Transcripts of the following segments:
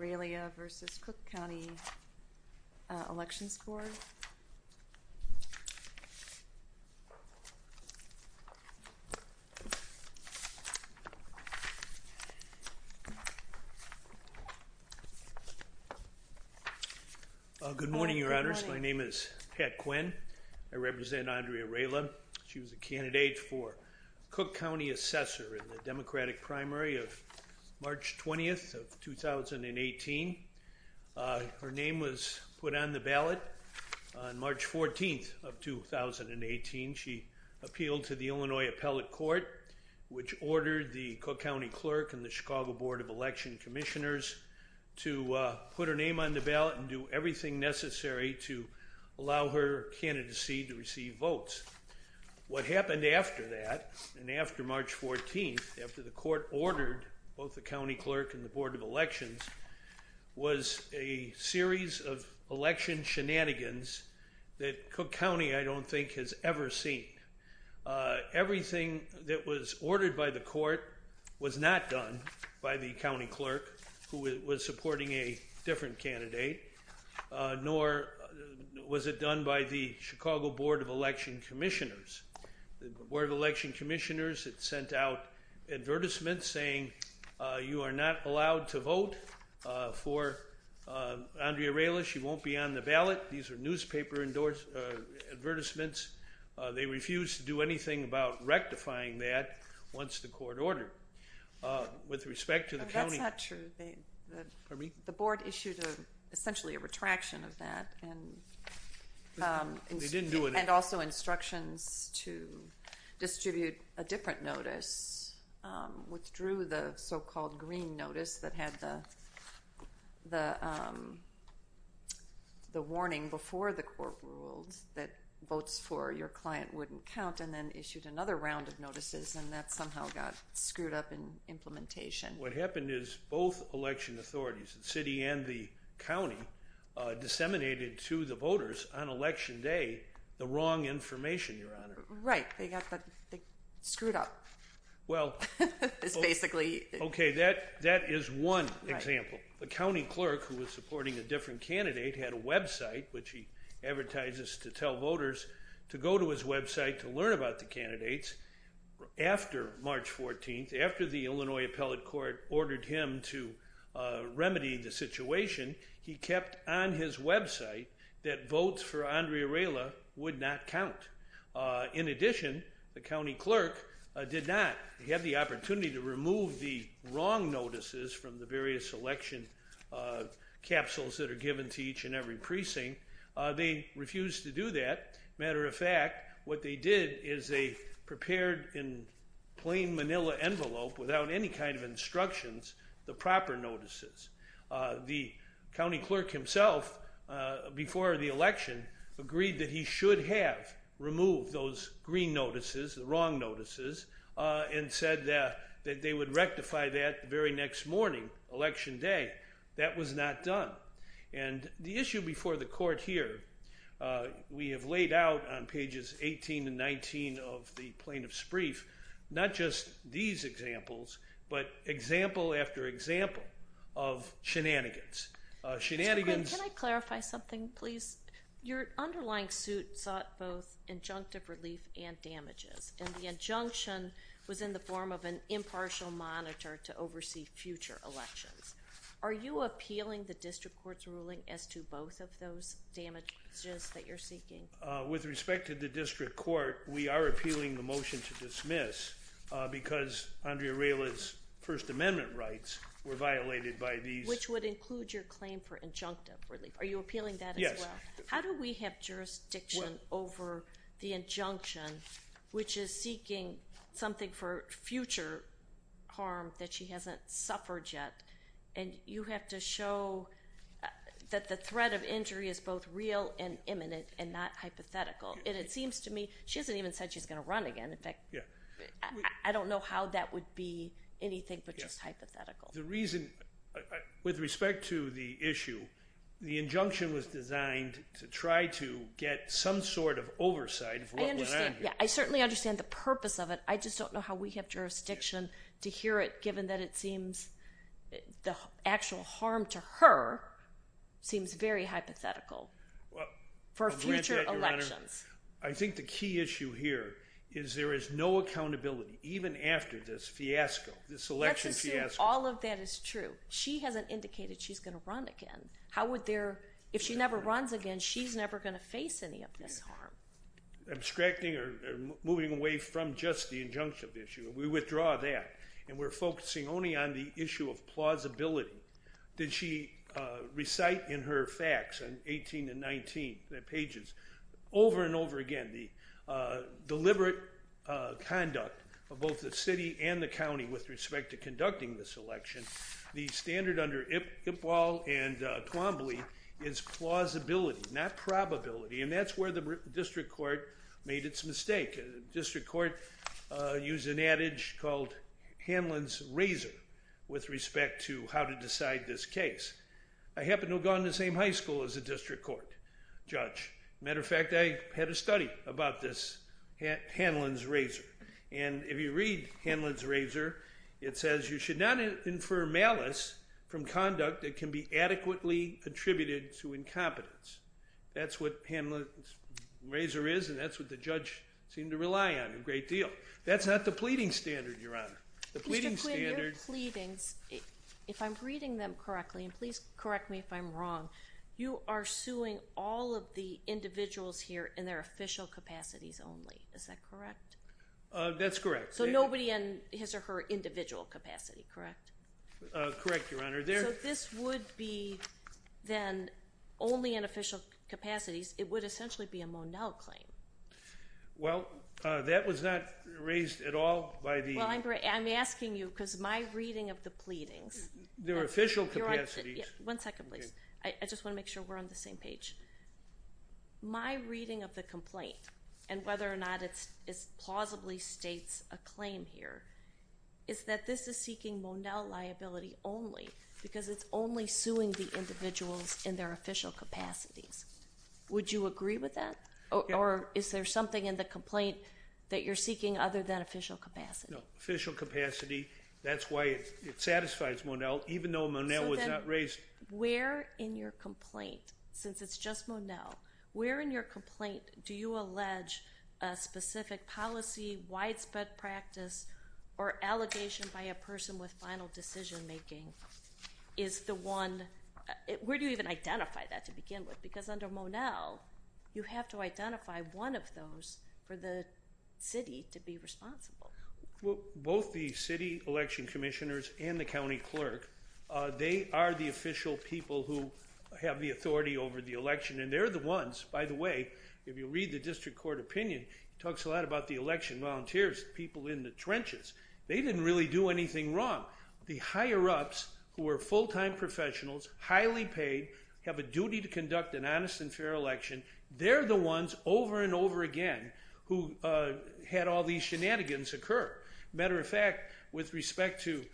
Railia v. Cook County Elections Board Good morning, your honors. My name is Pat Quinn. I represent Andrea Raila. She was a candidate for Cook County Assessor in the Democratic primary of March 20th of 2018. Her name was put on the ballot on March 14th of 2018. She appealed to the Illinois Appellate Court, which ordered the Cook County Clerk and the Chicago Board of Election Commissioners to put her name on the ballot and do everything necessary to allow her candidacy to receive votes. What happened after that, and after March 14th, after the court ordered both the County Clerk and the Board of Elections, was a series of election shenanigans that Cook County, I don't think, has ever seen. Everything that was ordered by the court was not done by the County Clerk, who was supporting a different candidate, nor was it done by the Chicago Board of Election Commissioners. The Board of Election Commissioners sent out advertisements saying, you are not allowed to vote for Andrea Raila. She won't be on the ballot. These are newspaper advertisements. They refused to do anything about rectifying that once the court ordered. With respect to the county... That's not true. The board issued essentially a retraction of that. And also instructions to distribute a different notice, withdrew the so-called green notice that had the warning before the court ruled that votes for your client wouldn't count, and then issued another round of notices, and that somehow got screwed up in implementation. What happened is both election authorities, the city and the county, disseminated to the election day the wrong information, Your Honor. Right. They screwed up. Okay, that is one example. The County Clerk, who was supporting a different candidate, had a website which he advertises to tell voters to go to his website to learn about the candidates. After March 14th, after the Illinois Appellate Court ordered him to remedy the situation, he kept on his website that votes for Andrea Raila would not count. In addition, the County Clerk did not have the opportunity to remove the wrong notices from the various election capsules that are given to each and every precinct. They refused to do that. Matter of fact, what they did is they prepared in plain manila envelope, without any kind of instructions, the proper notices. The County Clerk himself, before the election, agreed that he should have removed those green notices, the wrong notices, and said that they would rectify that the very next morning, election day. That was not done. And the issue before the court here, we have laid out on pages 18 and 19 of the Plaintiff's Brief, not just these examples, but example after example of shenanigans. Can I clarify something, please? Your underlying suit sought both injunctive relief and damages, and the injunction was in the form of an impartial monitor to oversee future elections. Are you appealing the District Court's ruling as to both of those damages that you're seeking? With respect to the District Court, we are appealing the motion to dismiss because Andrea Rayla's First Amendment rights were violated by these... Which would include your claim for injunctive relief. Are you appealing that? Yes. How do we have jurisdiction over the injunction, which is seeking something for future harm that she hasn't suffered yet, and you have to show that the threat of injury is both real and imminent and not hypothetical? And it seems to me, she hasn't even said she's gonna run again. In fact, I don't know how that would be anything but just hypothetical. The reason, with respect to the issue, the injunction was designed to try to get some sort of oversight. I understand. I certainly understand the purpose of it. I just don't know how we have jurisdiction to hear it, given that it seems the actual harm to her seems very hypothetical for future elections. I think the key issue here is there is no accountability, even after this fiasco, this election fiasco. Let's assume all of that is true. She hasn't indicated she's gonna run again. How would there... If she never runs again, she's never gonna face any of this harm. Abstracting or moving away from just the injunction issue, we withdraw that, and we're focusing only on the issue of plausibility. Did she recite in her facts on 18 and 19, the pages, over and over again, the deliberate conduct of both the city and the county with respect to conducting this election, the standard under Ipwal and Twombly is plausibility, not probability. And that's where the district court made its mistake. The district court used an adage called Hanlon's Razor with respect to how to decide this case. I happen to have gone to the same high school as a district court judge. Matter of fact, I had a study about this Hanlon's Razor. And if you read Hanlon's Razor, it says, you should not infer malice from conduct that can be adequately attributed to incompetence. That's what Hanlon's Razor is, and that's what the judge seemed to rely on a great deal. That's not the pleading standard, Your Honor. The pleading standard... Mr. Quinn, your pleadings, if I'm reading them correctly, and please correct me if I'm wrong, you are suing all of the individuals here in their official capacities only. Is that correct? That's correct. So nobody in his or her individual only in official capacities, it would essentially be a Monell claim. Well, that was not raised at all by the... Well, I'm asking you because my reading of the pleadings... They're official capacities. One second, please. I just want to make sure we're on the same page. My reading of the complaint and whether or not it's plausibly states a claim here is that this is seeking Monell liability only because it's only suing the individuals in their official capacities. Would you agree with that, or is there something in the complaint that you're seeking other than official capacity? No, official capacity, that's why it satisfies Monell, even though Monell was not raised... So then, where in your complaint, since it's just Monell, where in your complaint do you allege a specific policy, widespread practice, or allegation by a person with final decision-making is the one... Where do you even identify that to begin with? Because under Monell, you have to identify one of those for the city to be responsible. Well, both the city election commissioners and the county clerk, they are the official people who have the authority over the election, and they're the ones... By the way, if you read the district court opinion, it talks a lot about the people who didn't do anything wrong. The higher-ups, who are full-time professionals, highly paid, have a duty to conduct an honest and fair election. They're the ones over and over again who had all these shenanigans occur. Matter of fact, with respect to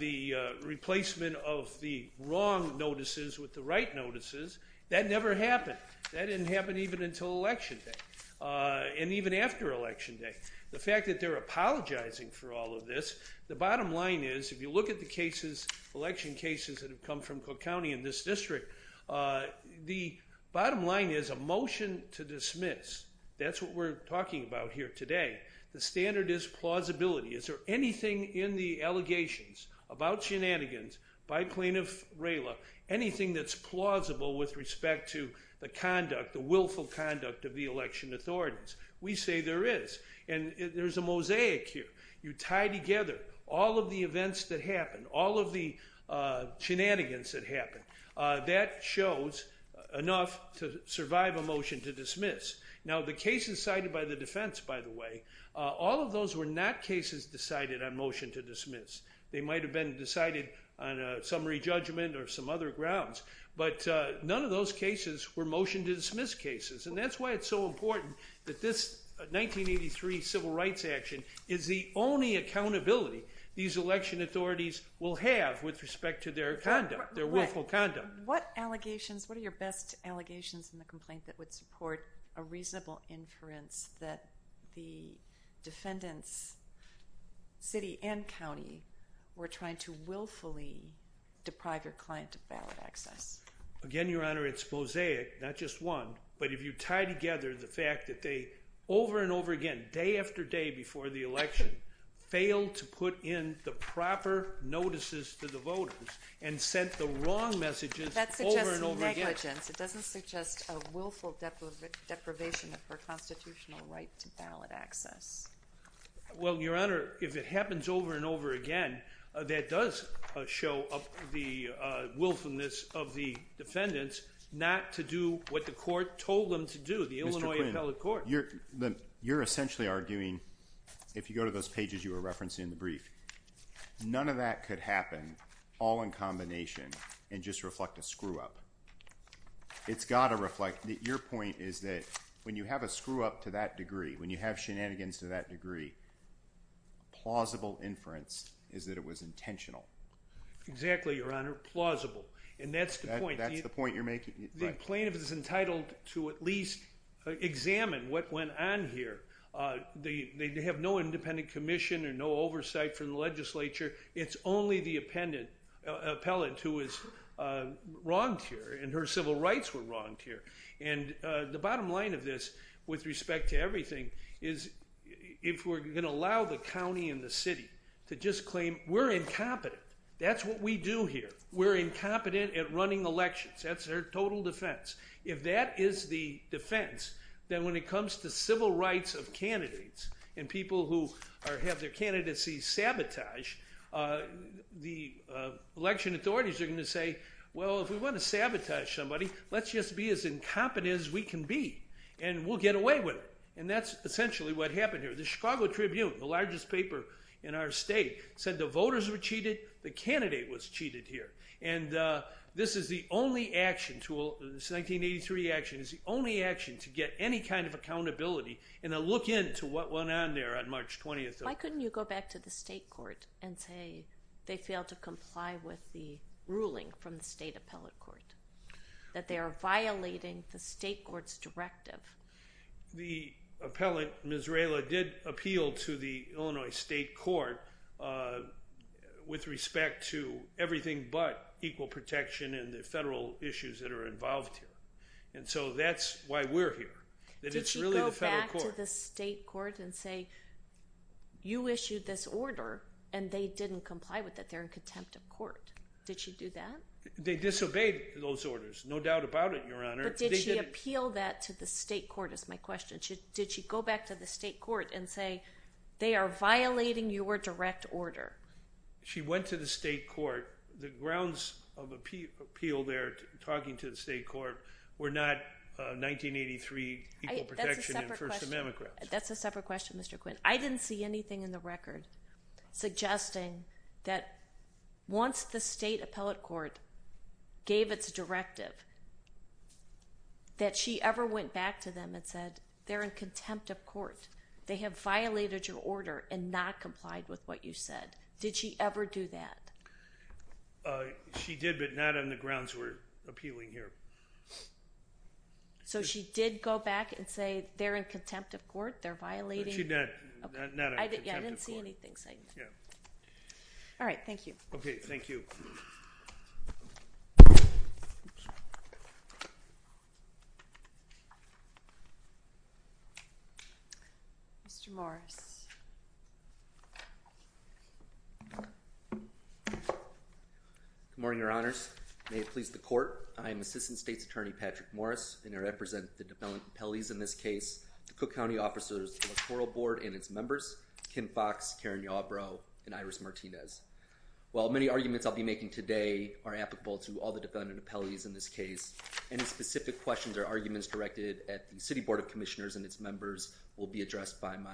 the replacement of the wrong notices with the right notices, that never happened. That didn't happen even until Election Day, and even after Election Day. The fact that they're apologizing for all of this, the bottom line is, if you look at the cases, election cases that have come from Cook County in this district, the bottom line is a motion to dismiss. That's what we're talking about here today. The standard is plausibility. Is there anything in the allegations about shenanigans by plaintiff Rayla, anything that's plausible with respect to the conduct, the mosaic here, you tie together all of the events that happened, all of the shenanigans that happened, that shows enough to survive a motion to dismiss. Now, the cases cited by the defense, by the way, all of those were not cases decided on motion to dismiss. They might have been decided on a summary judgment or some other grounds, but none of those cases were motion to dismiss cases, and that's why it's so important that this 1983 civil rights action is the only accountability these election authorities will have with respect to their conduct, their willful conduct. What allegations, what are your best allegations in the complaint that would support a reasonable inference that the defendants, city and county, were trying to willfully deprive your client of ballot access? Again, Your Honor, it's mosaic, not just one, but if you tie together the fact that they over and over again, day after day before the election, failed to put in the proper notices to the voters and sent the wrong messages over and over again. That suggests negligence. It doesn't suggest a willful deprivation of her constitutional right to ballot access. Well, Your Honor, if it happens over and over again, that does show up the willfulness of the defendants not to do what the court told them to do. The Illinois Appellate Court. You're essentially arguing, if you go to those pages you were referencing in the brief, none of that could happen all in combination and just reflect a screw-up. It's got to reflect that your point is that when you have a screw-up to that degree, when you have shenanigans to that degree. Exactly, Your Honor. Plausible. And that's the point. That's the point you're making. The plaintiff is entitled to at least examine what went on here. They have no independent commission or no oversight from the legislature. It's only the appellant who is wronged here and her civil rights were wronged here. And the bottom line of this, with respect to everything, is if we're gonna allow the county and the city to just claim we're incompetent, that's what we do here. We're incompetent at running elections. That's their total defense. If that is the defense, then when it comes to civil rights of candidates and people who have their candidacies sabotaged, the election authorities are going to say, well, if we want to sabotage somebody, let's just be as incompetent as we can be and we'll get away with it. And that's essentially what happened here. The Chicago Tribune, the largest paper in our state, said the voters were cheated, the candidate was cheated here. And this is the only action, this 1983 action, is the only action to get any kind of accountability and a look into what went on there on March 20th. Why couldn't you go back to the state court and say they failed to comply with the ruling from the state appellate court, that they are violating the state court's directive? The appellant, Ms. Rayla, did appeal to the Illinois State Court with respect to everything but equal protection and the federal issues that are involved here. And so that's why we're here. Did she go back to the state court and say, you issued this order and they didn't comply with it, they're in contempt of court. Did she do that? They disobeyed those orders, no doubt about it, Your Honor. But did she appeal that to the state court is my question. Did she go back to the state court and say they are violating your direct order? She went to the state court. The grounds of appeal there, talking to the state court, were not 1983 equal protection and First Amendment grounds. That's a separate question, Mr. Quinn. I didn't see anything in the record suggesting that once the state appellate court gave its directive, that she ever went back to them and said they're in contempt of court. They have violated your order and not complied with what you said. Did she ever do that? She did, but not on the grounds we're appealing here. So she did go back and say they're in contempt of court, they're in contempt of court. I didn't see anything saying that. All right, thank you. Okay, thank you. Mr. Morris. Good morning, Your Honors. May it please the court, I am Assistant State's Attorney Patrick Morris, and I represent the appellees in this case, the Cook County officers of the Coral Board and its members, Kim Fox, Karen Yawbro, and Iris Martinez. While many arguments I'll be making today are applicable to all the defendant appellees in this case, any specific questions or arguments directed at the City Board of Commissioners and its members will be addressed by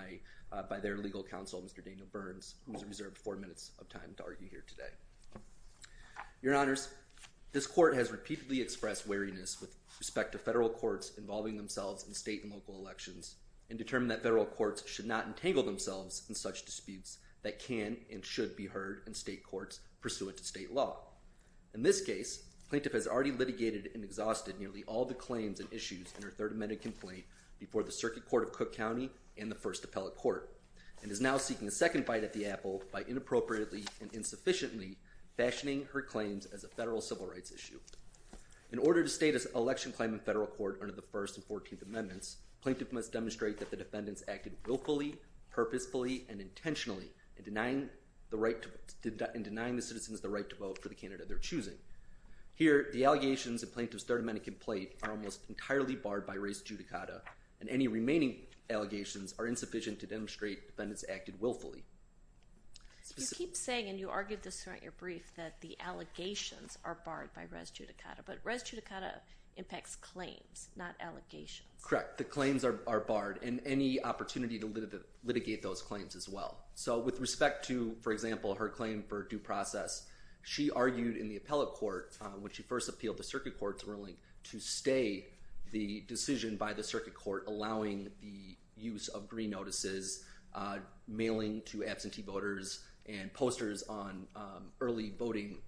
their legal counsel, Mr. Daniel Burns, who's reserved four minutes of time to argue here today. Your Honors, this court has repeatedly expressed wariness with respect to federal courts involving themselves in state and federal courts should not entangle themselves in such disputes that can and should be heard in state courts pursuant to state law. In this case, plaintiff has already litigated and exhausted nearly all the claims and issues in her Third Amendment complaint before the Circuit Court of Cook County and the First Appellate Court, and is now seeking a second fight at the apple by inappropriately and insufficiently fashioning her claims as a federal civil rights issue. In order to state an election claim in federal court under the First and Fourteenth Amendments, plaintiff must demonstrate that the defendants acted willfully, purposefully, and intentionally in denying the citizens the right to vote for the candidate they're choosing. Here, the allegations in plaintiff's Third Amendment complaint are almost entirely barred by res judicata, and any remaining allegations are insufficient to demonstrate defendants acted willfully. You keep saying, and you argued this throughout your brief, that the allegations are barred by res judicata, but res judicata impacts claims, not allegations. Correct. The claims are barred, and any opportunity to litigate those claims as well. So with respect to, for example, her claim for due process, she argued in the Appellate Court, when she first appealed the Circuit Court's ruling, to stay the decision by the Circuit Court allowing the use of green notices, mailing to absentee voters, and posters on early voting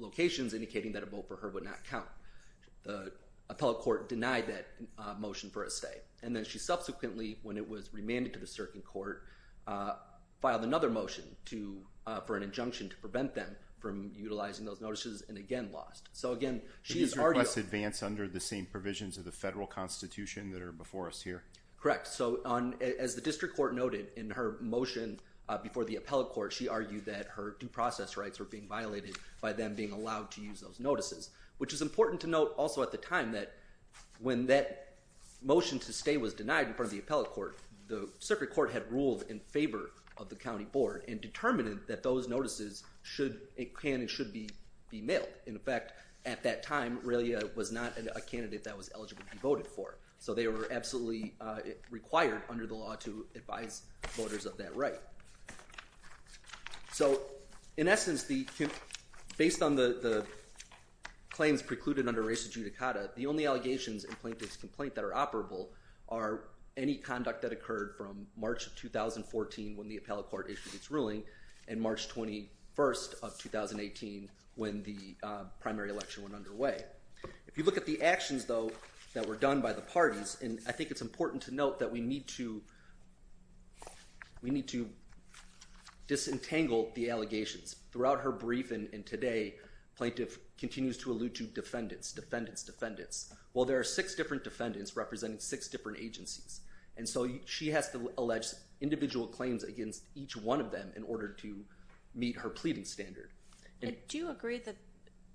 locations indicating that a vote for her would not count. The Appellate Court denied that motion for a stay, and then she subsequently, when it was remanded to the Circuit Court, filed another motion for an injunction to prevent them from utilizing those notices, and again lost. So again, she's argued... These requests advance under the same provisions of the federal constitution that are before us here? Correct. So as the District Court noted in her motion before the Appellate Court, she argued that her due process rights were being violated by them being allowed to use those notices, which is important to note also at the time that when that motion to stay was denied in front of the Appellate Court, the Circuit Court had ruled in favor of the County Board and determined that those notices should, it can and should be mailed. In fact, at that time, Raylia was not a candidate that was eligible to be voted for, so they were absolutely required under the law to advise voters of that right. So in essence, based on the claims precluded under racist judicata, the only allegations in plaintiff's complaint that are operable are any conduct that occurred from March of 2014, when the Appellate Court issued its ruling, and March 21st of 2018, when the primary election went underway. If you look at the actions though, that were done by the parties, and I think it's important to note that we need to, we need to disentangle the allegations. Throughout her brief and today, plaintiff continues to allude to defendants, defendants, defendants. Well, there are six different defendants representing six different agencies, and so she has to allege individual claims against each one of them in order to meet her pleading standard. Do you agree that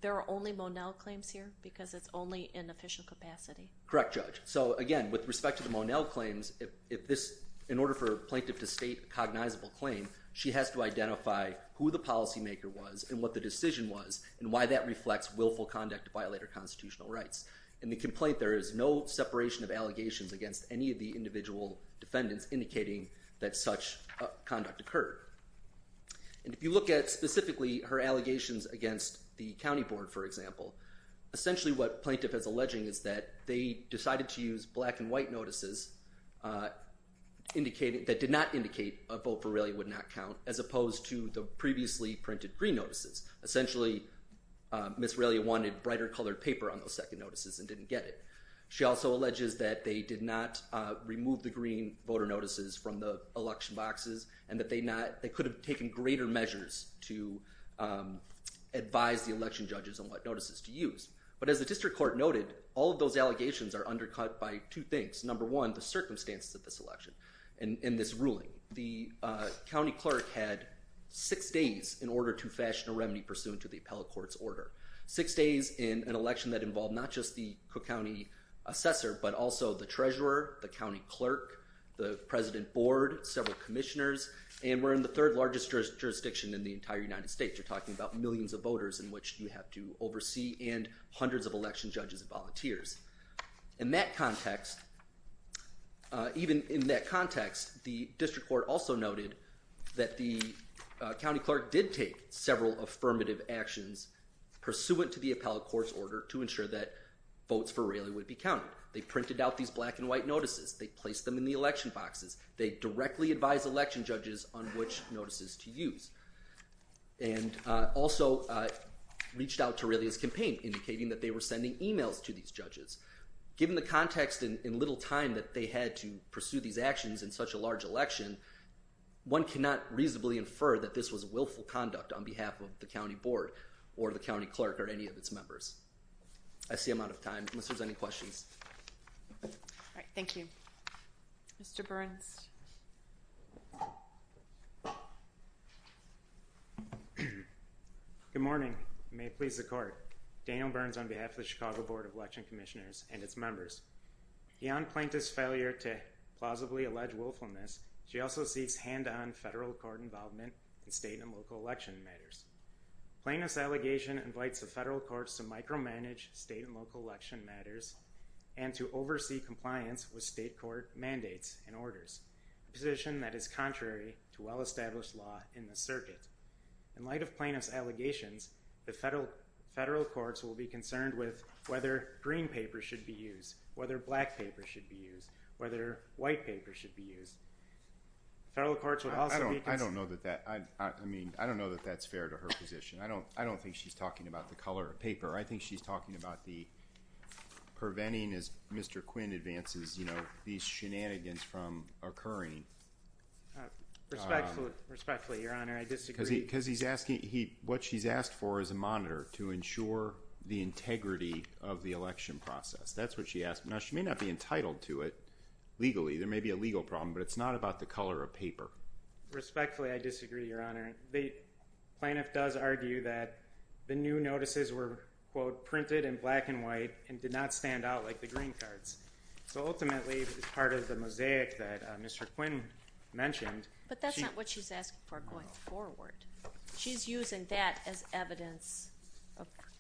there are only Monell claims here, because it's only in official capacity? Correct, Judge. So again, with respect to the Monell claims, if this, in order for plaintiff to state a cognizable claim, she has to identify who the policymaker was, and what the decision was, and why that reflects willful conduct to violate her constitutional rights. In the complaint, there is no separation of allegations against any of the individual defendants indicating that such conduct occurred. And if you look at specifically her allegations against the County Board, for example, essentially what plaintiff is alleging is that they decided to use black and white notices, indicating, that did not indicate a vote for Raleigh would not count, as opposed to the previously printed green notices. Essentially, Miss Raleigh wanted brighter colored paper on those second notices and didn't get it. She also alleges that they did not remove the green voter notices from the election boxes, and that they not, they could have taken greater measures to advise the election judges on what notices to use. But as the District Court noted, all of those allegations are undercut by two things. Number one, the circumstances of this election, and in this ruling. The County Clerk had six days in order to fashion a remedy pursuant to the Appellate Court's order. Six days in an election that involved not just the Cook County Assessor, but also the Treasurer, the County Clerk, the President Board, several commissioners, and we're in the third largest jurisdiction in the entire United States. You're talking about millions of voters in which you have to oversee and hundreds of election judges and volunteers. In that context, even in that context, the District Court also noted that the County Clerk did take several affirmative actions pursuant to the Appellate Court's order to ensure that votes for Raleigh would be counted. They printed out these black and white notices. They placed them in the election boxes. They directly advised election judges on which notices to use, and also reached out to Raleigh's campaign, indicating that they were sending emails to these judges. Given the context and little time that they had to pursue these actions in such a large election, one cannot reasonably infer that this was willful conduct on behalf of the County Board or the County Clerk or any of its members. I see I'm out of time unless there's any questions. All right, thank you. Mr. Burns. Good morning. May it please the Court. Daniel Burns on behalf of the Chicago Board of Election Commissioners and its members. Beyond Plaintiff's failure to plausibly allege willfulness, she also sees hand-on federal court involvement in state and local election matters. Plaintiff's allegation invites the federal courts to micromanage state and local election matters and to oversee compliance with state court mandates and orders, a position that is contrary to well-established law in the circuit. In light of Plaintiff's allegations, the federal courts will be concerned with whether green paper should be used, whether black paper should be used, whether white paper should be used. Federal courts would also... I don't know that that, I mean, I don't know that that's fair to her position. I don't, I don't think she's talking about the color of paper. I think she's talking about the preventing, as Mr. Quinn advances, you know, these shenanigans from occurring. Respectfully, Your Honor, I disagree. Because he's asking, he, what she's asked for is a monitor to ensure the integrity of the election process. That's what she asked. Now, she may not be entitled to it legally. There may be a legal problem, but it's not about the color of paper. Respectfully, I disagree, Your Honor. The plaintiff does argue that the new notices were, quote, printed in black and white and did not stand out like the green cards. So ultimately, it's part of the mosaic that Mr. Quinn mentioned. But that's not what she's asking for going forward. She's using that as evidence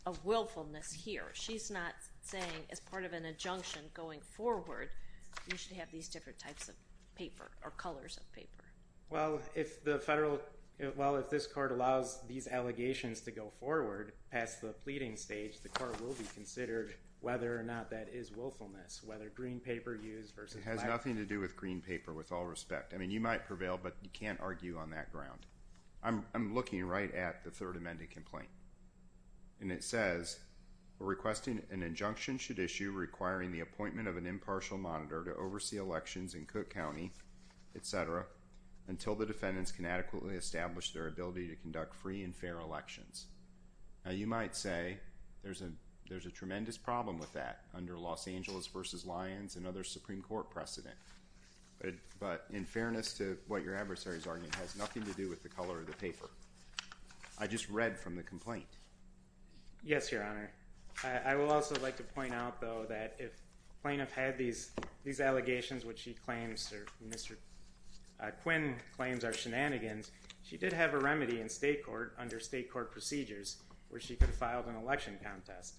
of willfulness here. She's not saying as part of an injunction going forward, you should have these different types of paper or colors of paper. Well, if the federal, well, if this court allows these allegations to go forward past the pleading stage, the court will be considered whether or not that is willfulness, whether green paper used versus black. It has nothing to do with green paper, with all respect. I mean, you might prevail, but you can't argue on that ground. I'm looking right at the Third Amendment complaint. And it says, requesting an injunction should issue requiring the appointment of an impartial monitor to oversee elections in Cook County, et cetera, until the defendants can adequately establish their ability to conduct free and fair elections. Now, you might say there's a tremendous problem with that under Los Angeles versus Lyons and other Supreme Court precedent. But in fairness to what your adversary is arguing, it has nothing to do with the color of the paper. I just read from the complaint. Yes, Your Honor. I will also like to point out, though, that if plaintiff had these allegations, which she claims, or Mr. Quinn claims are shenanigans, she did have a remedy in state court under state court procedures where she could have filed an election contest.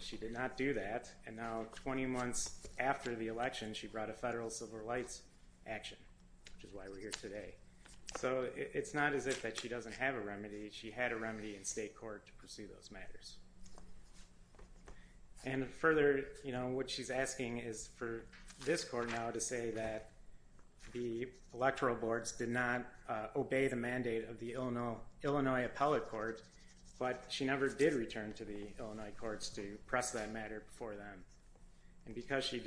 She did not do that. And now 20 months after the election, she brought a federal civil rights action, which is why we're here today. So it's not as if that she doesn't have a remedy. She had a remedy in state court to pursue those matters. And further, what she's asking is for this court now to say that the electoral boards did not obey the mandate of the Illinois appellate court, but she never did return to the Illinois courts to press that matter for them. And because she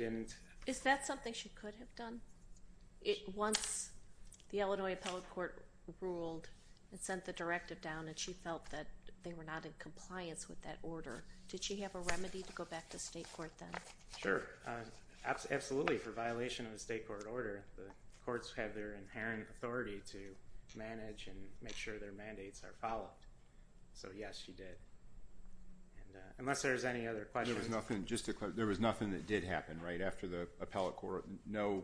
the Illinois appellate court ruled and sent the directive down, and she felt that they were not in compliance with that order, did she have a remedy to go back to state court then? Sure. Absolutely. For violation of the state court order, the courts have their inherent authority to manage and make sure their mandates are followed. So yes, she did. Unless there's any other questions. There was nothing that did happen right after the appellate court. No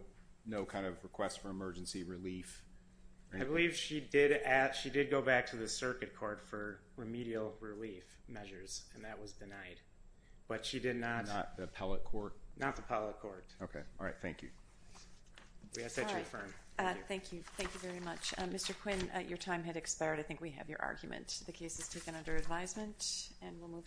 kind of request for emergency relief. I believe she did. She did go back to the circuit court for remedial relief measures, and that was denied. But she did not. Not the appellate court? Not the appellate court. Okay. All right. Thank you. Thank you. Thank you very much. Mr. Quinn, your time had expired. I think we have your argument. The case is taken under advisement, and we'll move on.